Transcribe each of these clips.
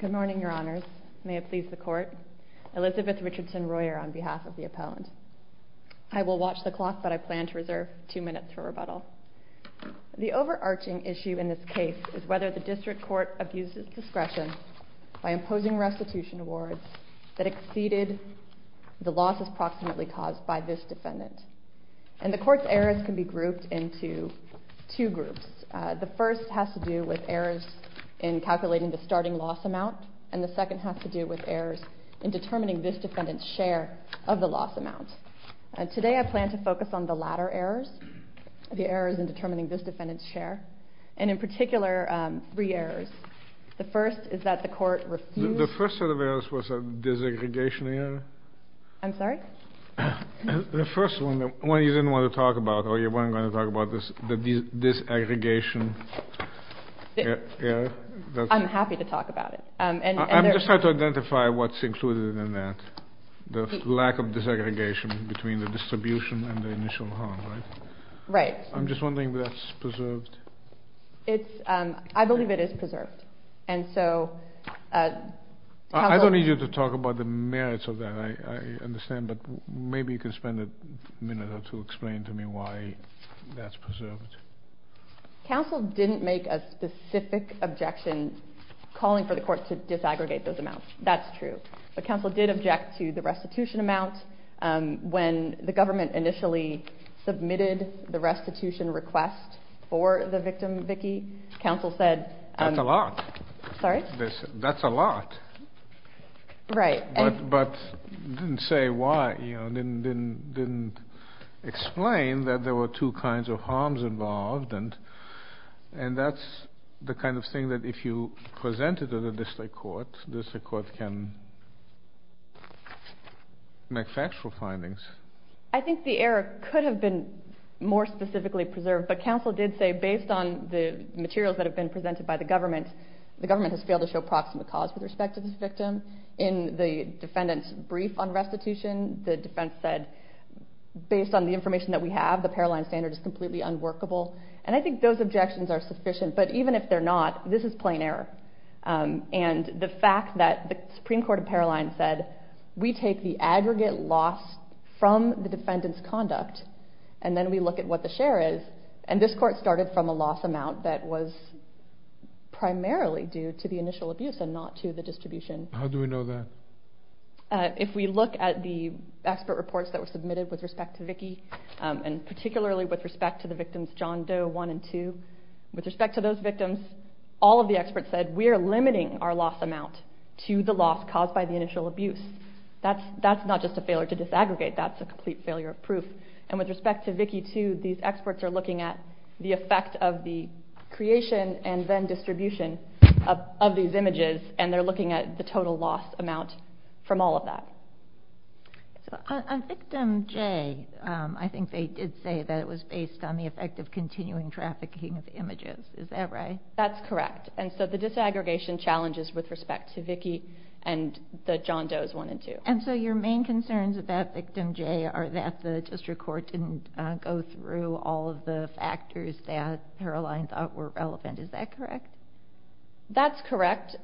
Good morning, your honors. May it please the court. Elizabeth Richardson Royer on behalf of the opponent. I will watch the clock, but I plan to reserve two minutes for rebuttal. The overarching issue in this case is whether the district court abuses discretion by imposing restitution awards that exceeded the losses approximately caused by this defendant. And the court's errors can be grouped into two groups. The first has to do with errors in calculating the starting loss amount. And the second has to do with errors in determining this defendant's share of the loss amount. Today, I plan to focus on the latter errors, the errors in determining this defendant's share. And in particular, three errors. The first is that the court refused... The first set of errors was a desegregation error? I'm sorry? The first one, the one you didn't want to talk about, or you weren't going to talk about, is the desegregation error. I'm happy to talk about it. I'm just trying to identify what's included in that. The lack of desegregation between the distribution and the initial harm, right? Right. I'm just wondering if that's preserved. It's... I believe it is preserved. And so... I don't need you to talk about the merits of that. I understand. But maybe you could spend a minute or two explaining to me why that's preserved. Counsel didn't make a specific objection calling for the court to disaggregate those amounts. That's true. But counsel did object to the restitution amount. When the government initially submitted the restitution request for the victim, Vicki, counsel said... That's a lot. Sorry? That's a lot. Right. But didn't say why. Didn't explain that there were two kinds of harms involved. And that's the kind of thing that if you present it to the district court, the district court can make factual findings. I think the error could have been more specifically preserved. But counsel did say, based on the materials that have been presented by the government, the government has failed to show an approximate cause with respect to this victim. In the defendant's brief on restitution, the defense said, based on the information that we have, the Paroline standard is completely unworkable. And I think those objections are sufficient. But even if they're not, this is plain error. And the fact that the Supreme Court of Paroline said, we take the aggregate loss from the defendant's conduct, and then we look at what the share is. And this court started from a loss amount that was primarily due to the initial abuse and not to the distribution. How do we know that? If we look at the expert reports that were submitted with respect to Vicki, and particularly with respect to the victims John Doe 1 and 2, with respect to those victims, all of the experts said, we are limiting our loss amount to the loss caused by the initial abuse. That's not just a failure to disaggregate, that's a complete failure of proof. And with respect to Vicki 2, these experts are looking at the effect of the creation and then distribution of these images, and they're looking at the total loss amount from all of that. So on victim J, I think they did say that it was based on the effect of continuing trafficking of images. Is that right? That's correct. And so the disaggregation challenges with respect to Vicki and the John Doe's 1 and 2. And so your main concerns about victim J are that the district court didn't go through all of the factors that Paroline thought were relevant. Is that correct? That's correct,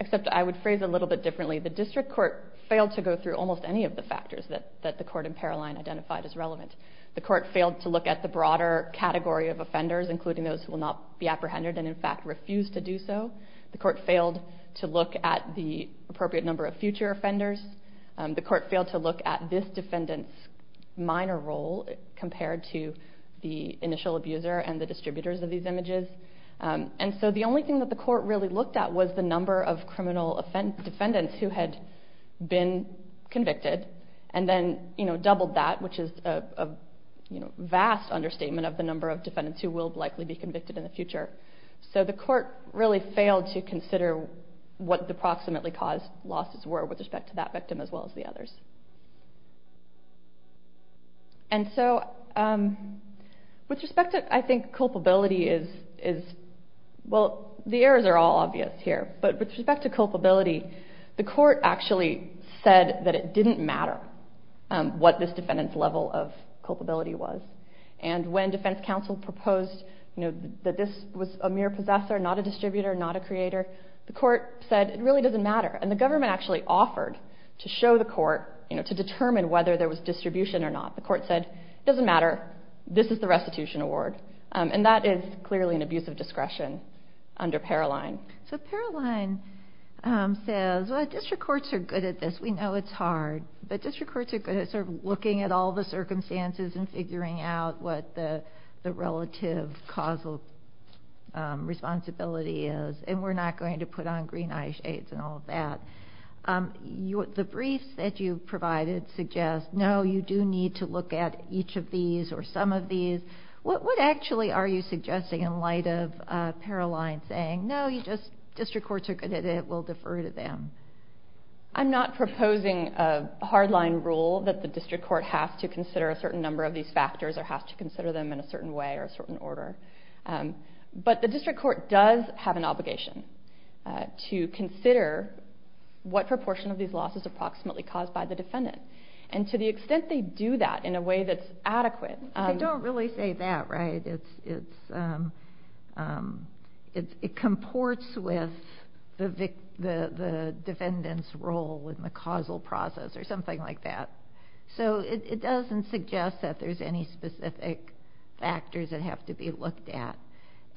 except I would phrase it a little bit differently. The district court failed to go through almost any of the factors that the court in Paroline identified as relevant. The court failed to look at the broader category of offenders, including those who will not be apprehended and in fact refuse to do so. The court failed to look at the appropriate number of future offenders. The court failed to look at this defendant's minor role compared to the initial abuser and the distributors of these images. And so the only thing that the court really looked at was the number of criminal defendants who had been convicted and then doubled that, which is a vast understatement of the number of defendants who will likely be convicted in the future. So the court really failed to consider what the approximately caused losses were with respect to that victim as well as the others. And so with respect to, I think, culpability is, well, the errors are all obvious here, but with respect to culpability, the court actually said that it didn't matter what this was a mere possessor, not a distributor, not a creator. The court said it really doesn't matter. And the government actually offered to show the court, you know, to determine whether there was distribution or not. The court said it doesn't matter. This is the restitution award. And that is clearly an abuse of discretion under Paroline. So Paroline says, well, district courts are good at this. We know it's hard. But district courts are good at sort of looking at all the circumstances and figuring out what the relative causal responsibility is. And we're not going to put on green eye shades and all of that. The briefs that you provided suggest, no, you do need to look at each of these or some of these. What actually are you suggesting in light of Paroline saying, no, you just district courts are good at it, we'll defer to them? I'm not proposing a hardline rule that the district court has to consider a certain number of these factors or has to consider them in a certain way or a certain order. But the district court does have an obligation to consider what proportion of these losses approximately caused by the defendant. And to the extent they do that in a way that's adequate- They don't really say that, right? It comports with the defendant's role in the causal process or something like that. So it doesn't suggest that there's any specific factors that have to be looked at.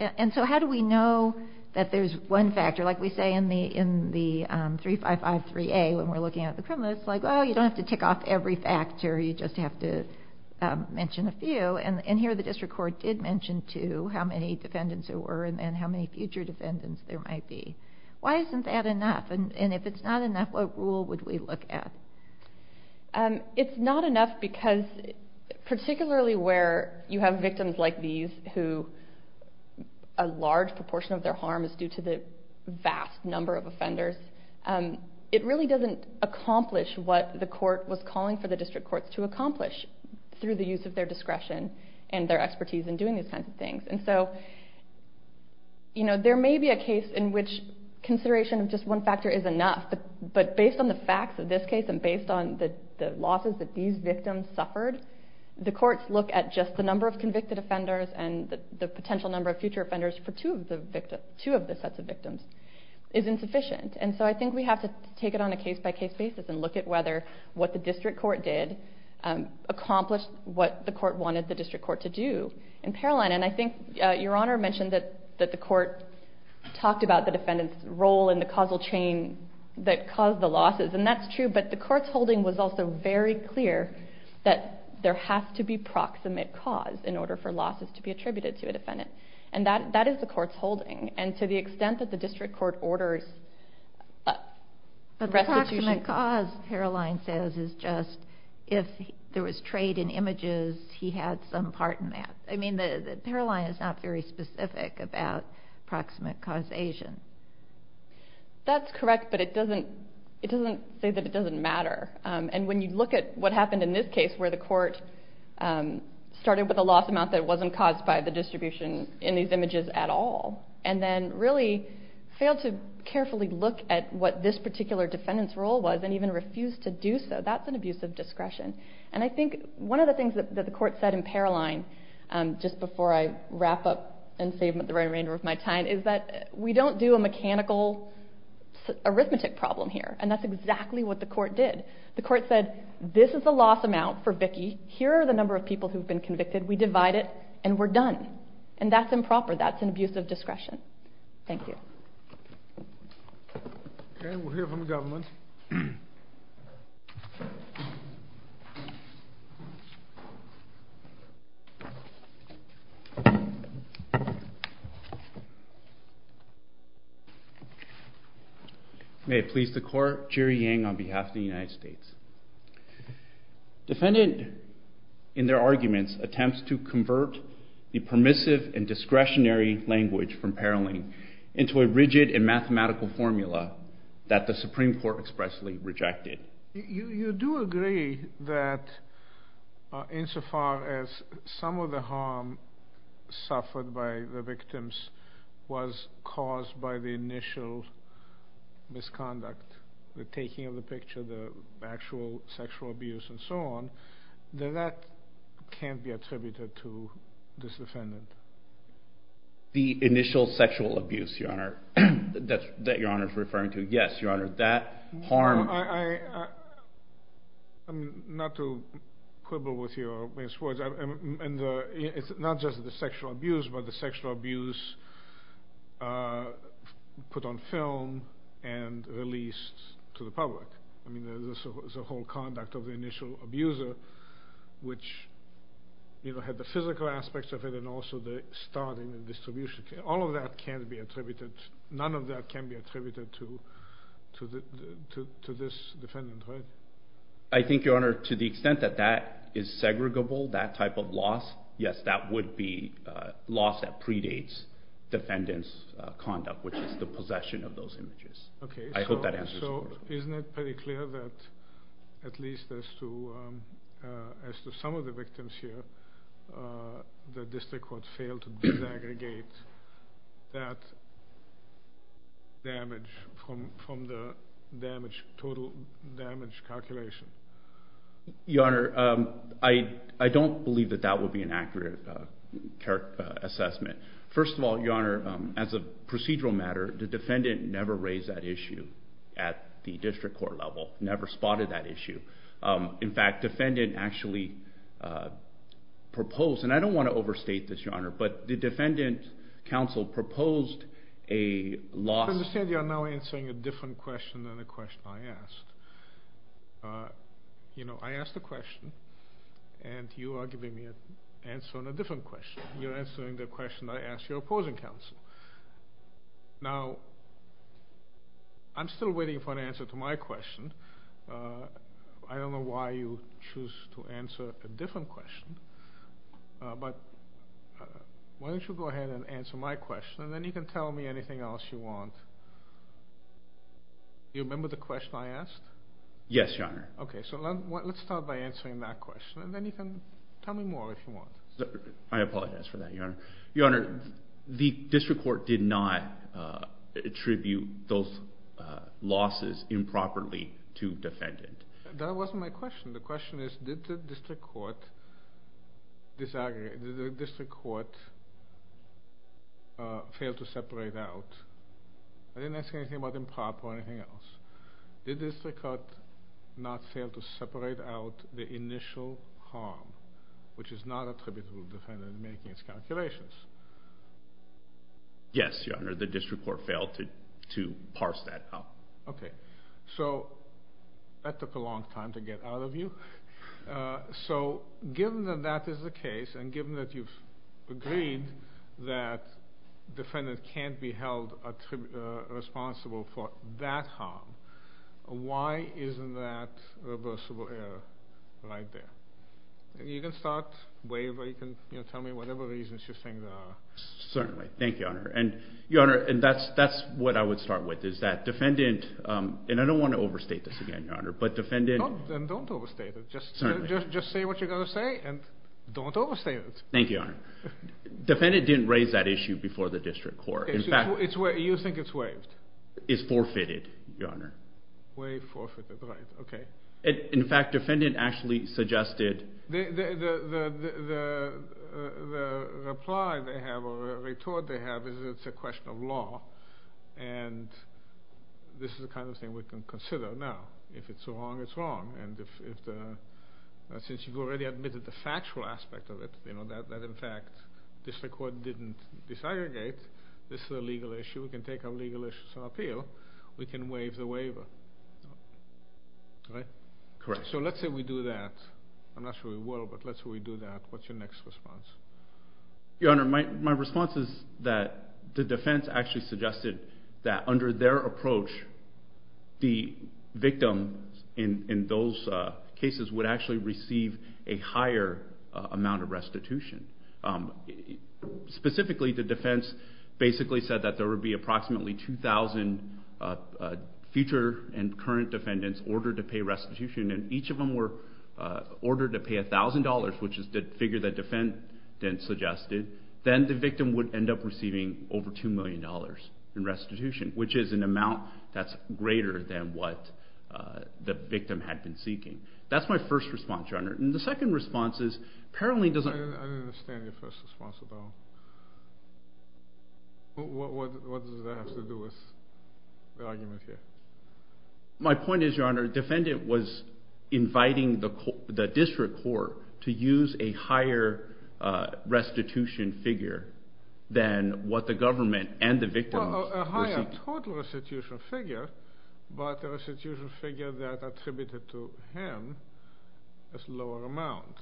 And so how do we know that there's one factor? Like we say in the 3553A when we're looking at the criminals, like, oh, you don't have to tick off every factor. You just have to mention a few. And here the district court did mention two, how many defendants there were and then how many future defendants there might be. Why isn't that enough? And if it's not enough, what rule would we look at? It's not enough because particularly where you have victims like these who a large proportion of their harm is due to the vast number of offenders, it really doesn't accomplish what the court was calling for the district courts to accomplish through the use of their discretion and their expertise in doing these kinds of things. And so there may be a case in which consideration of just one factor is enough, but based on the facts of this case and based on the losses that these victims suffered, the courts look at just the number of convicted offenders and the potential number of future offenders for two of the sets of victims is insufficient. And so I think we have to take it on a case-by-case basis and look at whether what the district court did accomplished what the court wanted the district court to do in Paroline. And I think Your Honor mentioned that the court talked about the defendants role in the causal chain that caused the losses, and that's true, but the court's holding was also very clear that there has to be proximate cause in order for losses to be attributed to a defendant. And that is the court's holding. And to the extent that the district court orders restitution... But the proximate cause, Paroline says, is just if there was trade in images, he had some part in that. I mean, Paroline is not very specific about proximate causation. That's correct, but it doesn't say that it doesn't matter. And when you look at what happened in this case where the court started with a loss amount that wasn't caused by the distribution in these images at all, and then really failed to carefully look at what this particular defendant's role was and even refused to do so, that's an abuse of discretion. And I think one of the things that the court said in Paroline, just before I wrap up and save the remainder of my time, is that we don't do a mechanical arithmetic problem here. And that's exactly what the court did. The court said, this is the loss amount for Vicki. Here are the number of people who've been convicted. We divide it, and we're done. And that's improper. That's an abuse of discretion. Thank you. Okay, we'll hear from the government. May it please the court, Jerry Yang on behalf of the United States. Defendant, in their arguments, attempts to convert the permissive and discretionary language from Paroline into a rigid and mathematical formula that the Supreme Court expressly rejected. You do agree that, insofar as some of the harm suffered by the victims was caused by the initial misconduct, the taking of the picture, the actual sexual abuse and so on, then that can't be attributed to this defendant. The initial sexual abuse, Your Honor, that Your Honor is referring to. Yes, Your Honor, that harm... I'm not too quibble with your words. It's not just the sexual abuse, but the sexual abuse put on film and released to the public. I mean, the whole conduct of the initial abuser, which had the physical aspects of it, and also the starting and distribution. All of that can't be attributed. None of that can be attributed to this defendant, right? I think, Your Honor, to the extent that that is segregable, that type of loss, yes, that would be loss that predates defendant's conduct, which is the possession of those images. Okay, so isn't it pretty clear that, at least as to some of the victims here, the district court failed to disaggregate that damage from the total damage calculation? Your Honor, I don't believe that that would be an accurate assessment. First of all, Your Honor, I never saw that issue at the district court level, never spotted that issue. In fact, defendant actually proposed, and I don't want to overstate this, Your Honor, but the defendant counsel proposed a loss... I understand you are now answering a different question than the question I asked. I asked a question, and you are giving me an answer on a different question. You're answering the question I asked your opposing counsel. Now, I'm still waiting for an answer to my question. I don't know why you choose to answer a different question, but why don't you go ahead and answer my question, and then you can tell me anything else you want. Do you remember the question I asked? Yes, Your Honor. Okay, so let's start by answering that question, and then you can tell me more if you want. I apologize for that, Your Honor. Your Honor, the district court did not attribute those losses improperly to defendant. That wasn't my question. The question is, did the district court fail to separate out? I didn't ask anything about improper or anything else. Did the district court not fail to separate out the initial harm, which is not attributable to the defendant in making its calculations? Yes, Your Honor, the district court failed to parse that out. Okay, so that took a long time to get out of you. So, given that that is the case, and given that you've agreed that the defendant can't be held responsible for that harm, why isn't that reversible error right there? And you can start, waive, or you can tell me whatever reasons you think there are. Certainly. Thank you, Your Honor. And Your Honor, that's what I would start with, is that defendant, and I don't want to overstate this again, Your Honor, but defendant... Then don't overstate it. Just say what you're going to say, and don't overstate it. Thank you, Your Honor. Defendant didn't raise that issue before the district court. Okay, so you think it's waived? It's forfeited, Your Honor. Waived, forfeited, right. Okay. In fact, defendant actually suggested... The reply they have, or retort they have, is it's a question of law, and this is the kind of thing we can consider now. If it's wrong, it's wrong. And since you've already admitted the factual aspect of it, that in fact district court didn't disaggregate, this is a legal issue, we can take our legal issues on appeal, we can waive the waiver, right? Correct. So let's say we do that. I'm not sure we will, but let's say we do that. What's your next response? Your Honor, my response is that the defense actually suggested that under their approach, the victim in those cases would actually receive a higher amount of restitution. Specifically, the defense basically said that there would be approximately 2,000 future and current defendants ordered to pay restitution, and each of them were ordered to pay $1,000, which is the figure the defendant suggested. Then the victim would end up receiving over $2 million in restitution, which is an amount that's greater than what the victim had been seeking. That's my first response, Your Honor. And the second response is, apparently... I don't understand your first response at all. What does that have to do with the argument here? My point is, Your Honor, the defendant was inviting the district court to use a higher restitution figure than what the government and the victim... Well, a higher total restitution figure, but a restitution figure that attributed to him a lower amount.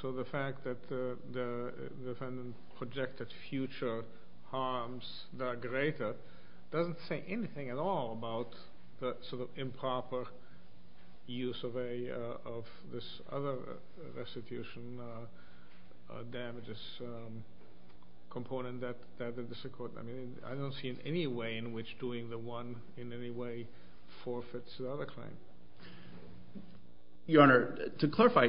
So the fact that the defendant projected future harms that are greater doesn't say anything at all about the improper use of this other restitution damages component that the district court... I don't see any way in which doing the one in any way forfeits the other claim. Your Honor, to clarify,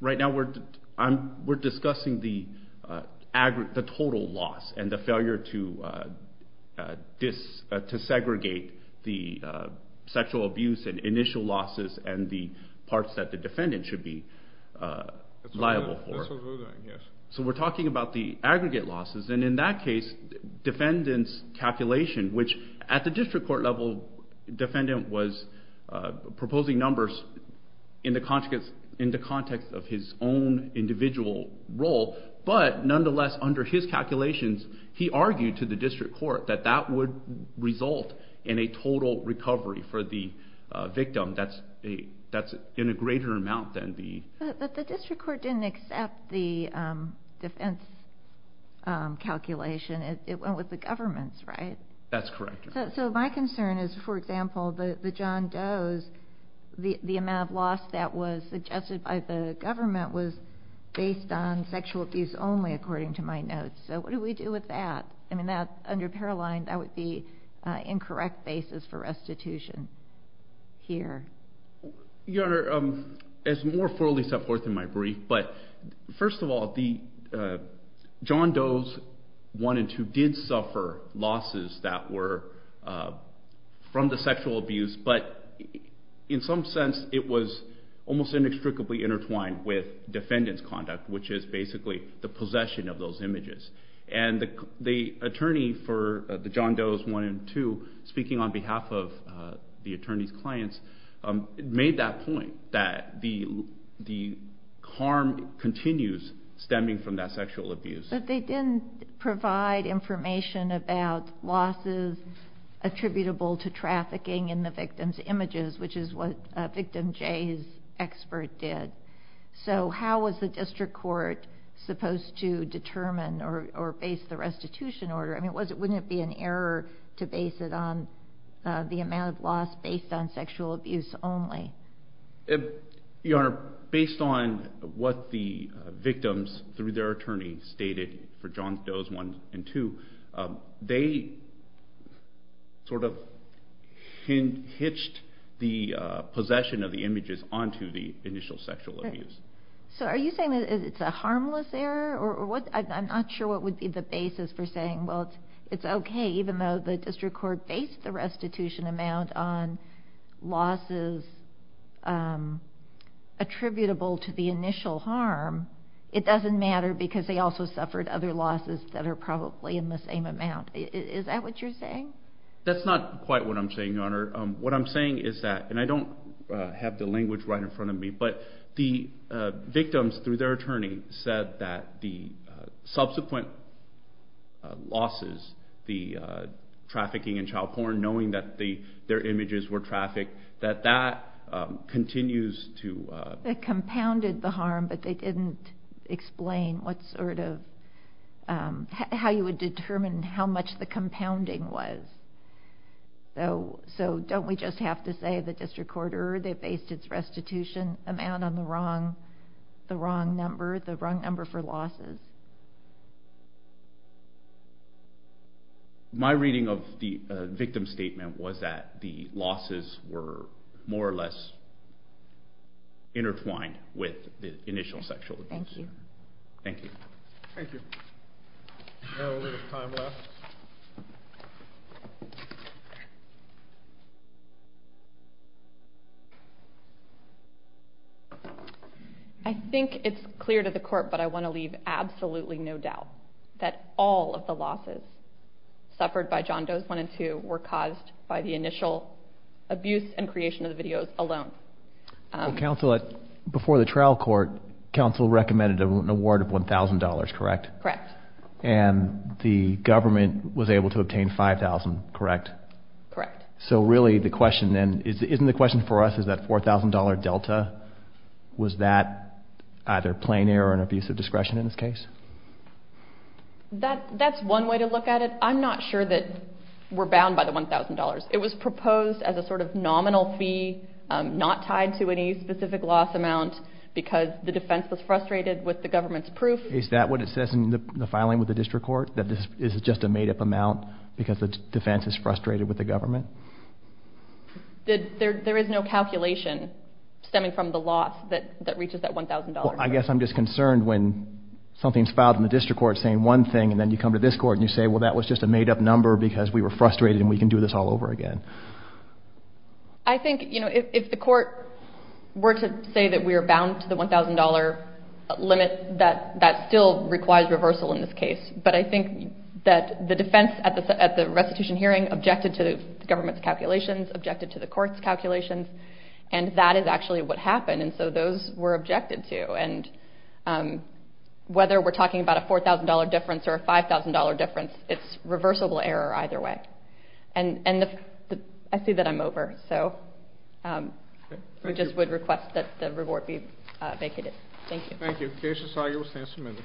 right now we're discussing the total loss and the failure to segregate the sexual abuse and initial losses and the parts that the defendant should be liable for. That's what we're doing, yes. So we're talking about the aggregate losses, and in that case, defendant's calculation, which at the district court level, defendant was proposing numbers in the context of his own individual role, but nonetheless under his calculations, he argued to the district court that that would result in a total recovery for the victim that's in a greater amount than the... But the district court didn't accept the defense calculation. It went with the government's, right? That's correct, Your Honor. So my concern is, for example, the John Does, the amount of loss that was suggested by the government was based on sexual abuse only, according to my notes. So what do we do with that? I mean, under Paroline, that would be incorrect basis for restitution here. Your Honor, as more formally set forth in my brief, but first of all, the John Does 1 and 2 did suffer losses that were from the sexual abuse, but in some sense, it was almost inextricably intertwined with defendant's conduct, which is basically the possession of those images. And the attorney for the John Does 1 and 2, speaking on behalf of the attorney's clients, made that point, that the harm continues stemming from that sexual abuse. But they didn't provide information about losses attributable to trafficking in the victim's images, which is what victim J's expert did. So how was the district court supposed to determine or base the restitution order? I mean, wouldn't it be an error to base it on the amount of loss based on sexual abuse only? Your Honor, based on what the victims, through their attorney, stated for John Does 1 and 2, they sort of hitched the possession of the images onto the initial sexual abuse. So are you saying that it's a harmless error? I'm not sure what would be the basis for saying, well, it's okay, even though the district court based the restitution amount on losses attributable to the initial harm, it doesn't matter because they also suffered other losses that are probably in the same amount. Is that what you're saying? That's not quite what I'm saying, Your Honor. What I'm saying is that, and I don't have the language right in front of me, but the victims, through their attorney, said that the subsequent losses, the trafficking in child porn, knowing that their images were trafficked, that that continues to... That compounded the harm, but they didn't explain how you would determine how much the compounding was. So don't we just have to say the district court based its restitution amount on the wrong number for losses? My reading of the victim's statement was that the losses were more or less intertwined with the initial sexual abuse. Thank you. Thank you. Thank you. We have a little time left. Okay. I think it's clear to the court, but I want to leave absolutely no doubt that all of the losses suffered by John Doe's 1 and 2 were caused by the initial abuse and creation of the videos alone. Before the trial court, counsel recommended an award of $1,000, correct? Correct. And the government was able to obtain $5,000, correct? Correct. So really the question then, isn't the question for us, is that $4,000 delta? Was that either plain error or an abuse of discretion in this case? That's one way to look at it. I'm not sure that we're bound by the $1,000. It was proposed as a sort of nominal fee, not tied to any specific loss amount, because the defense was frustrated with the government's proof. Is that what it says in the filing with the district court, that this is just a made-up amount because the defense is frustrated with the government? There is no calculation stemming from the loss that reaches that $1,000. Well, I guess I'm just concerned when something's filed in the district court saying one thing and then you come to this court and you say, well, that was just a made-up number because we were frustrated and we can do this all over again. I think, you know, if the court were to say that we are bound to the $1,000 limit, that still requires reversal in this case. But I think that the defense at the restitution hearing objected to the government's calculations, objected to the court's calculations, and that is actually what happened. And so those were objected to. And whether we're talking about a $4,000 difference or a $5,000 difference, it's reversible error either way. And I see that I'm over, so I just would request that the report be vacated. Thank you. Thank you. The case is signed and will stand submitted.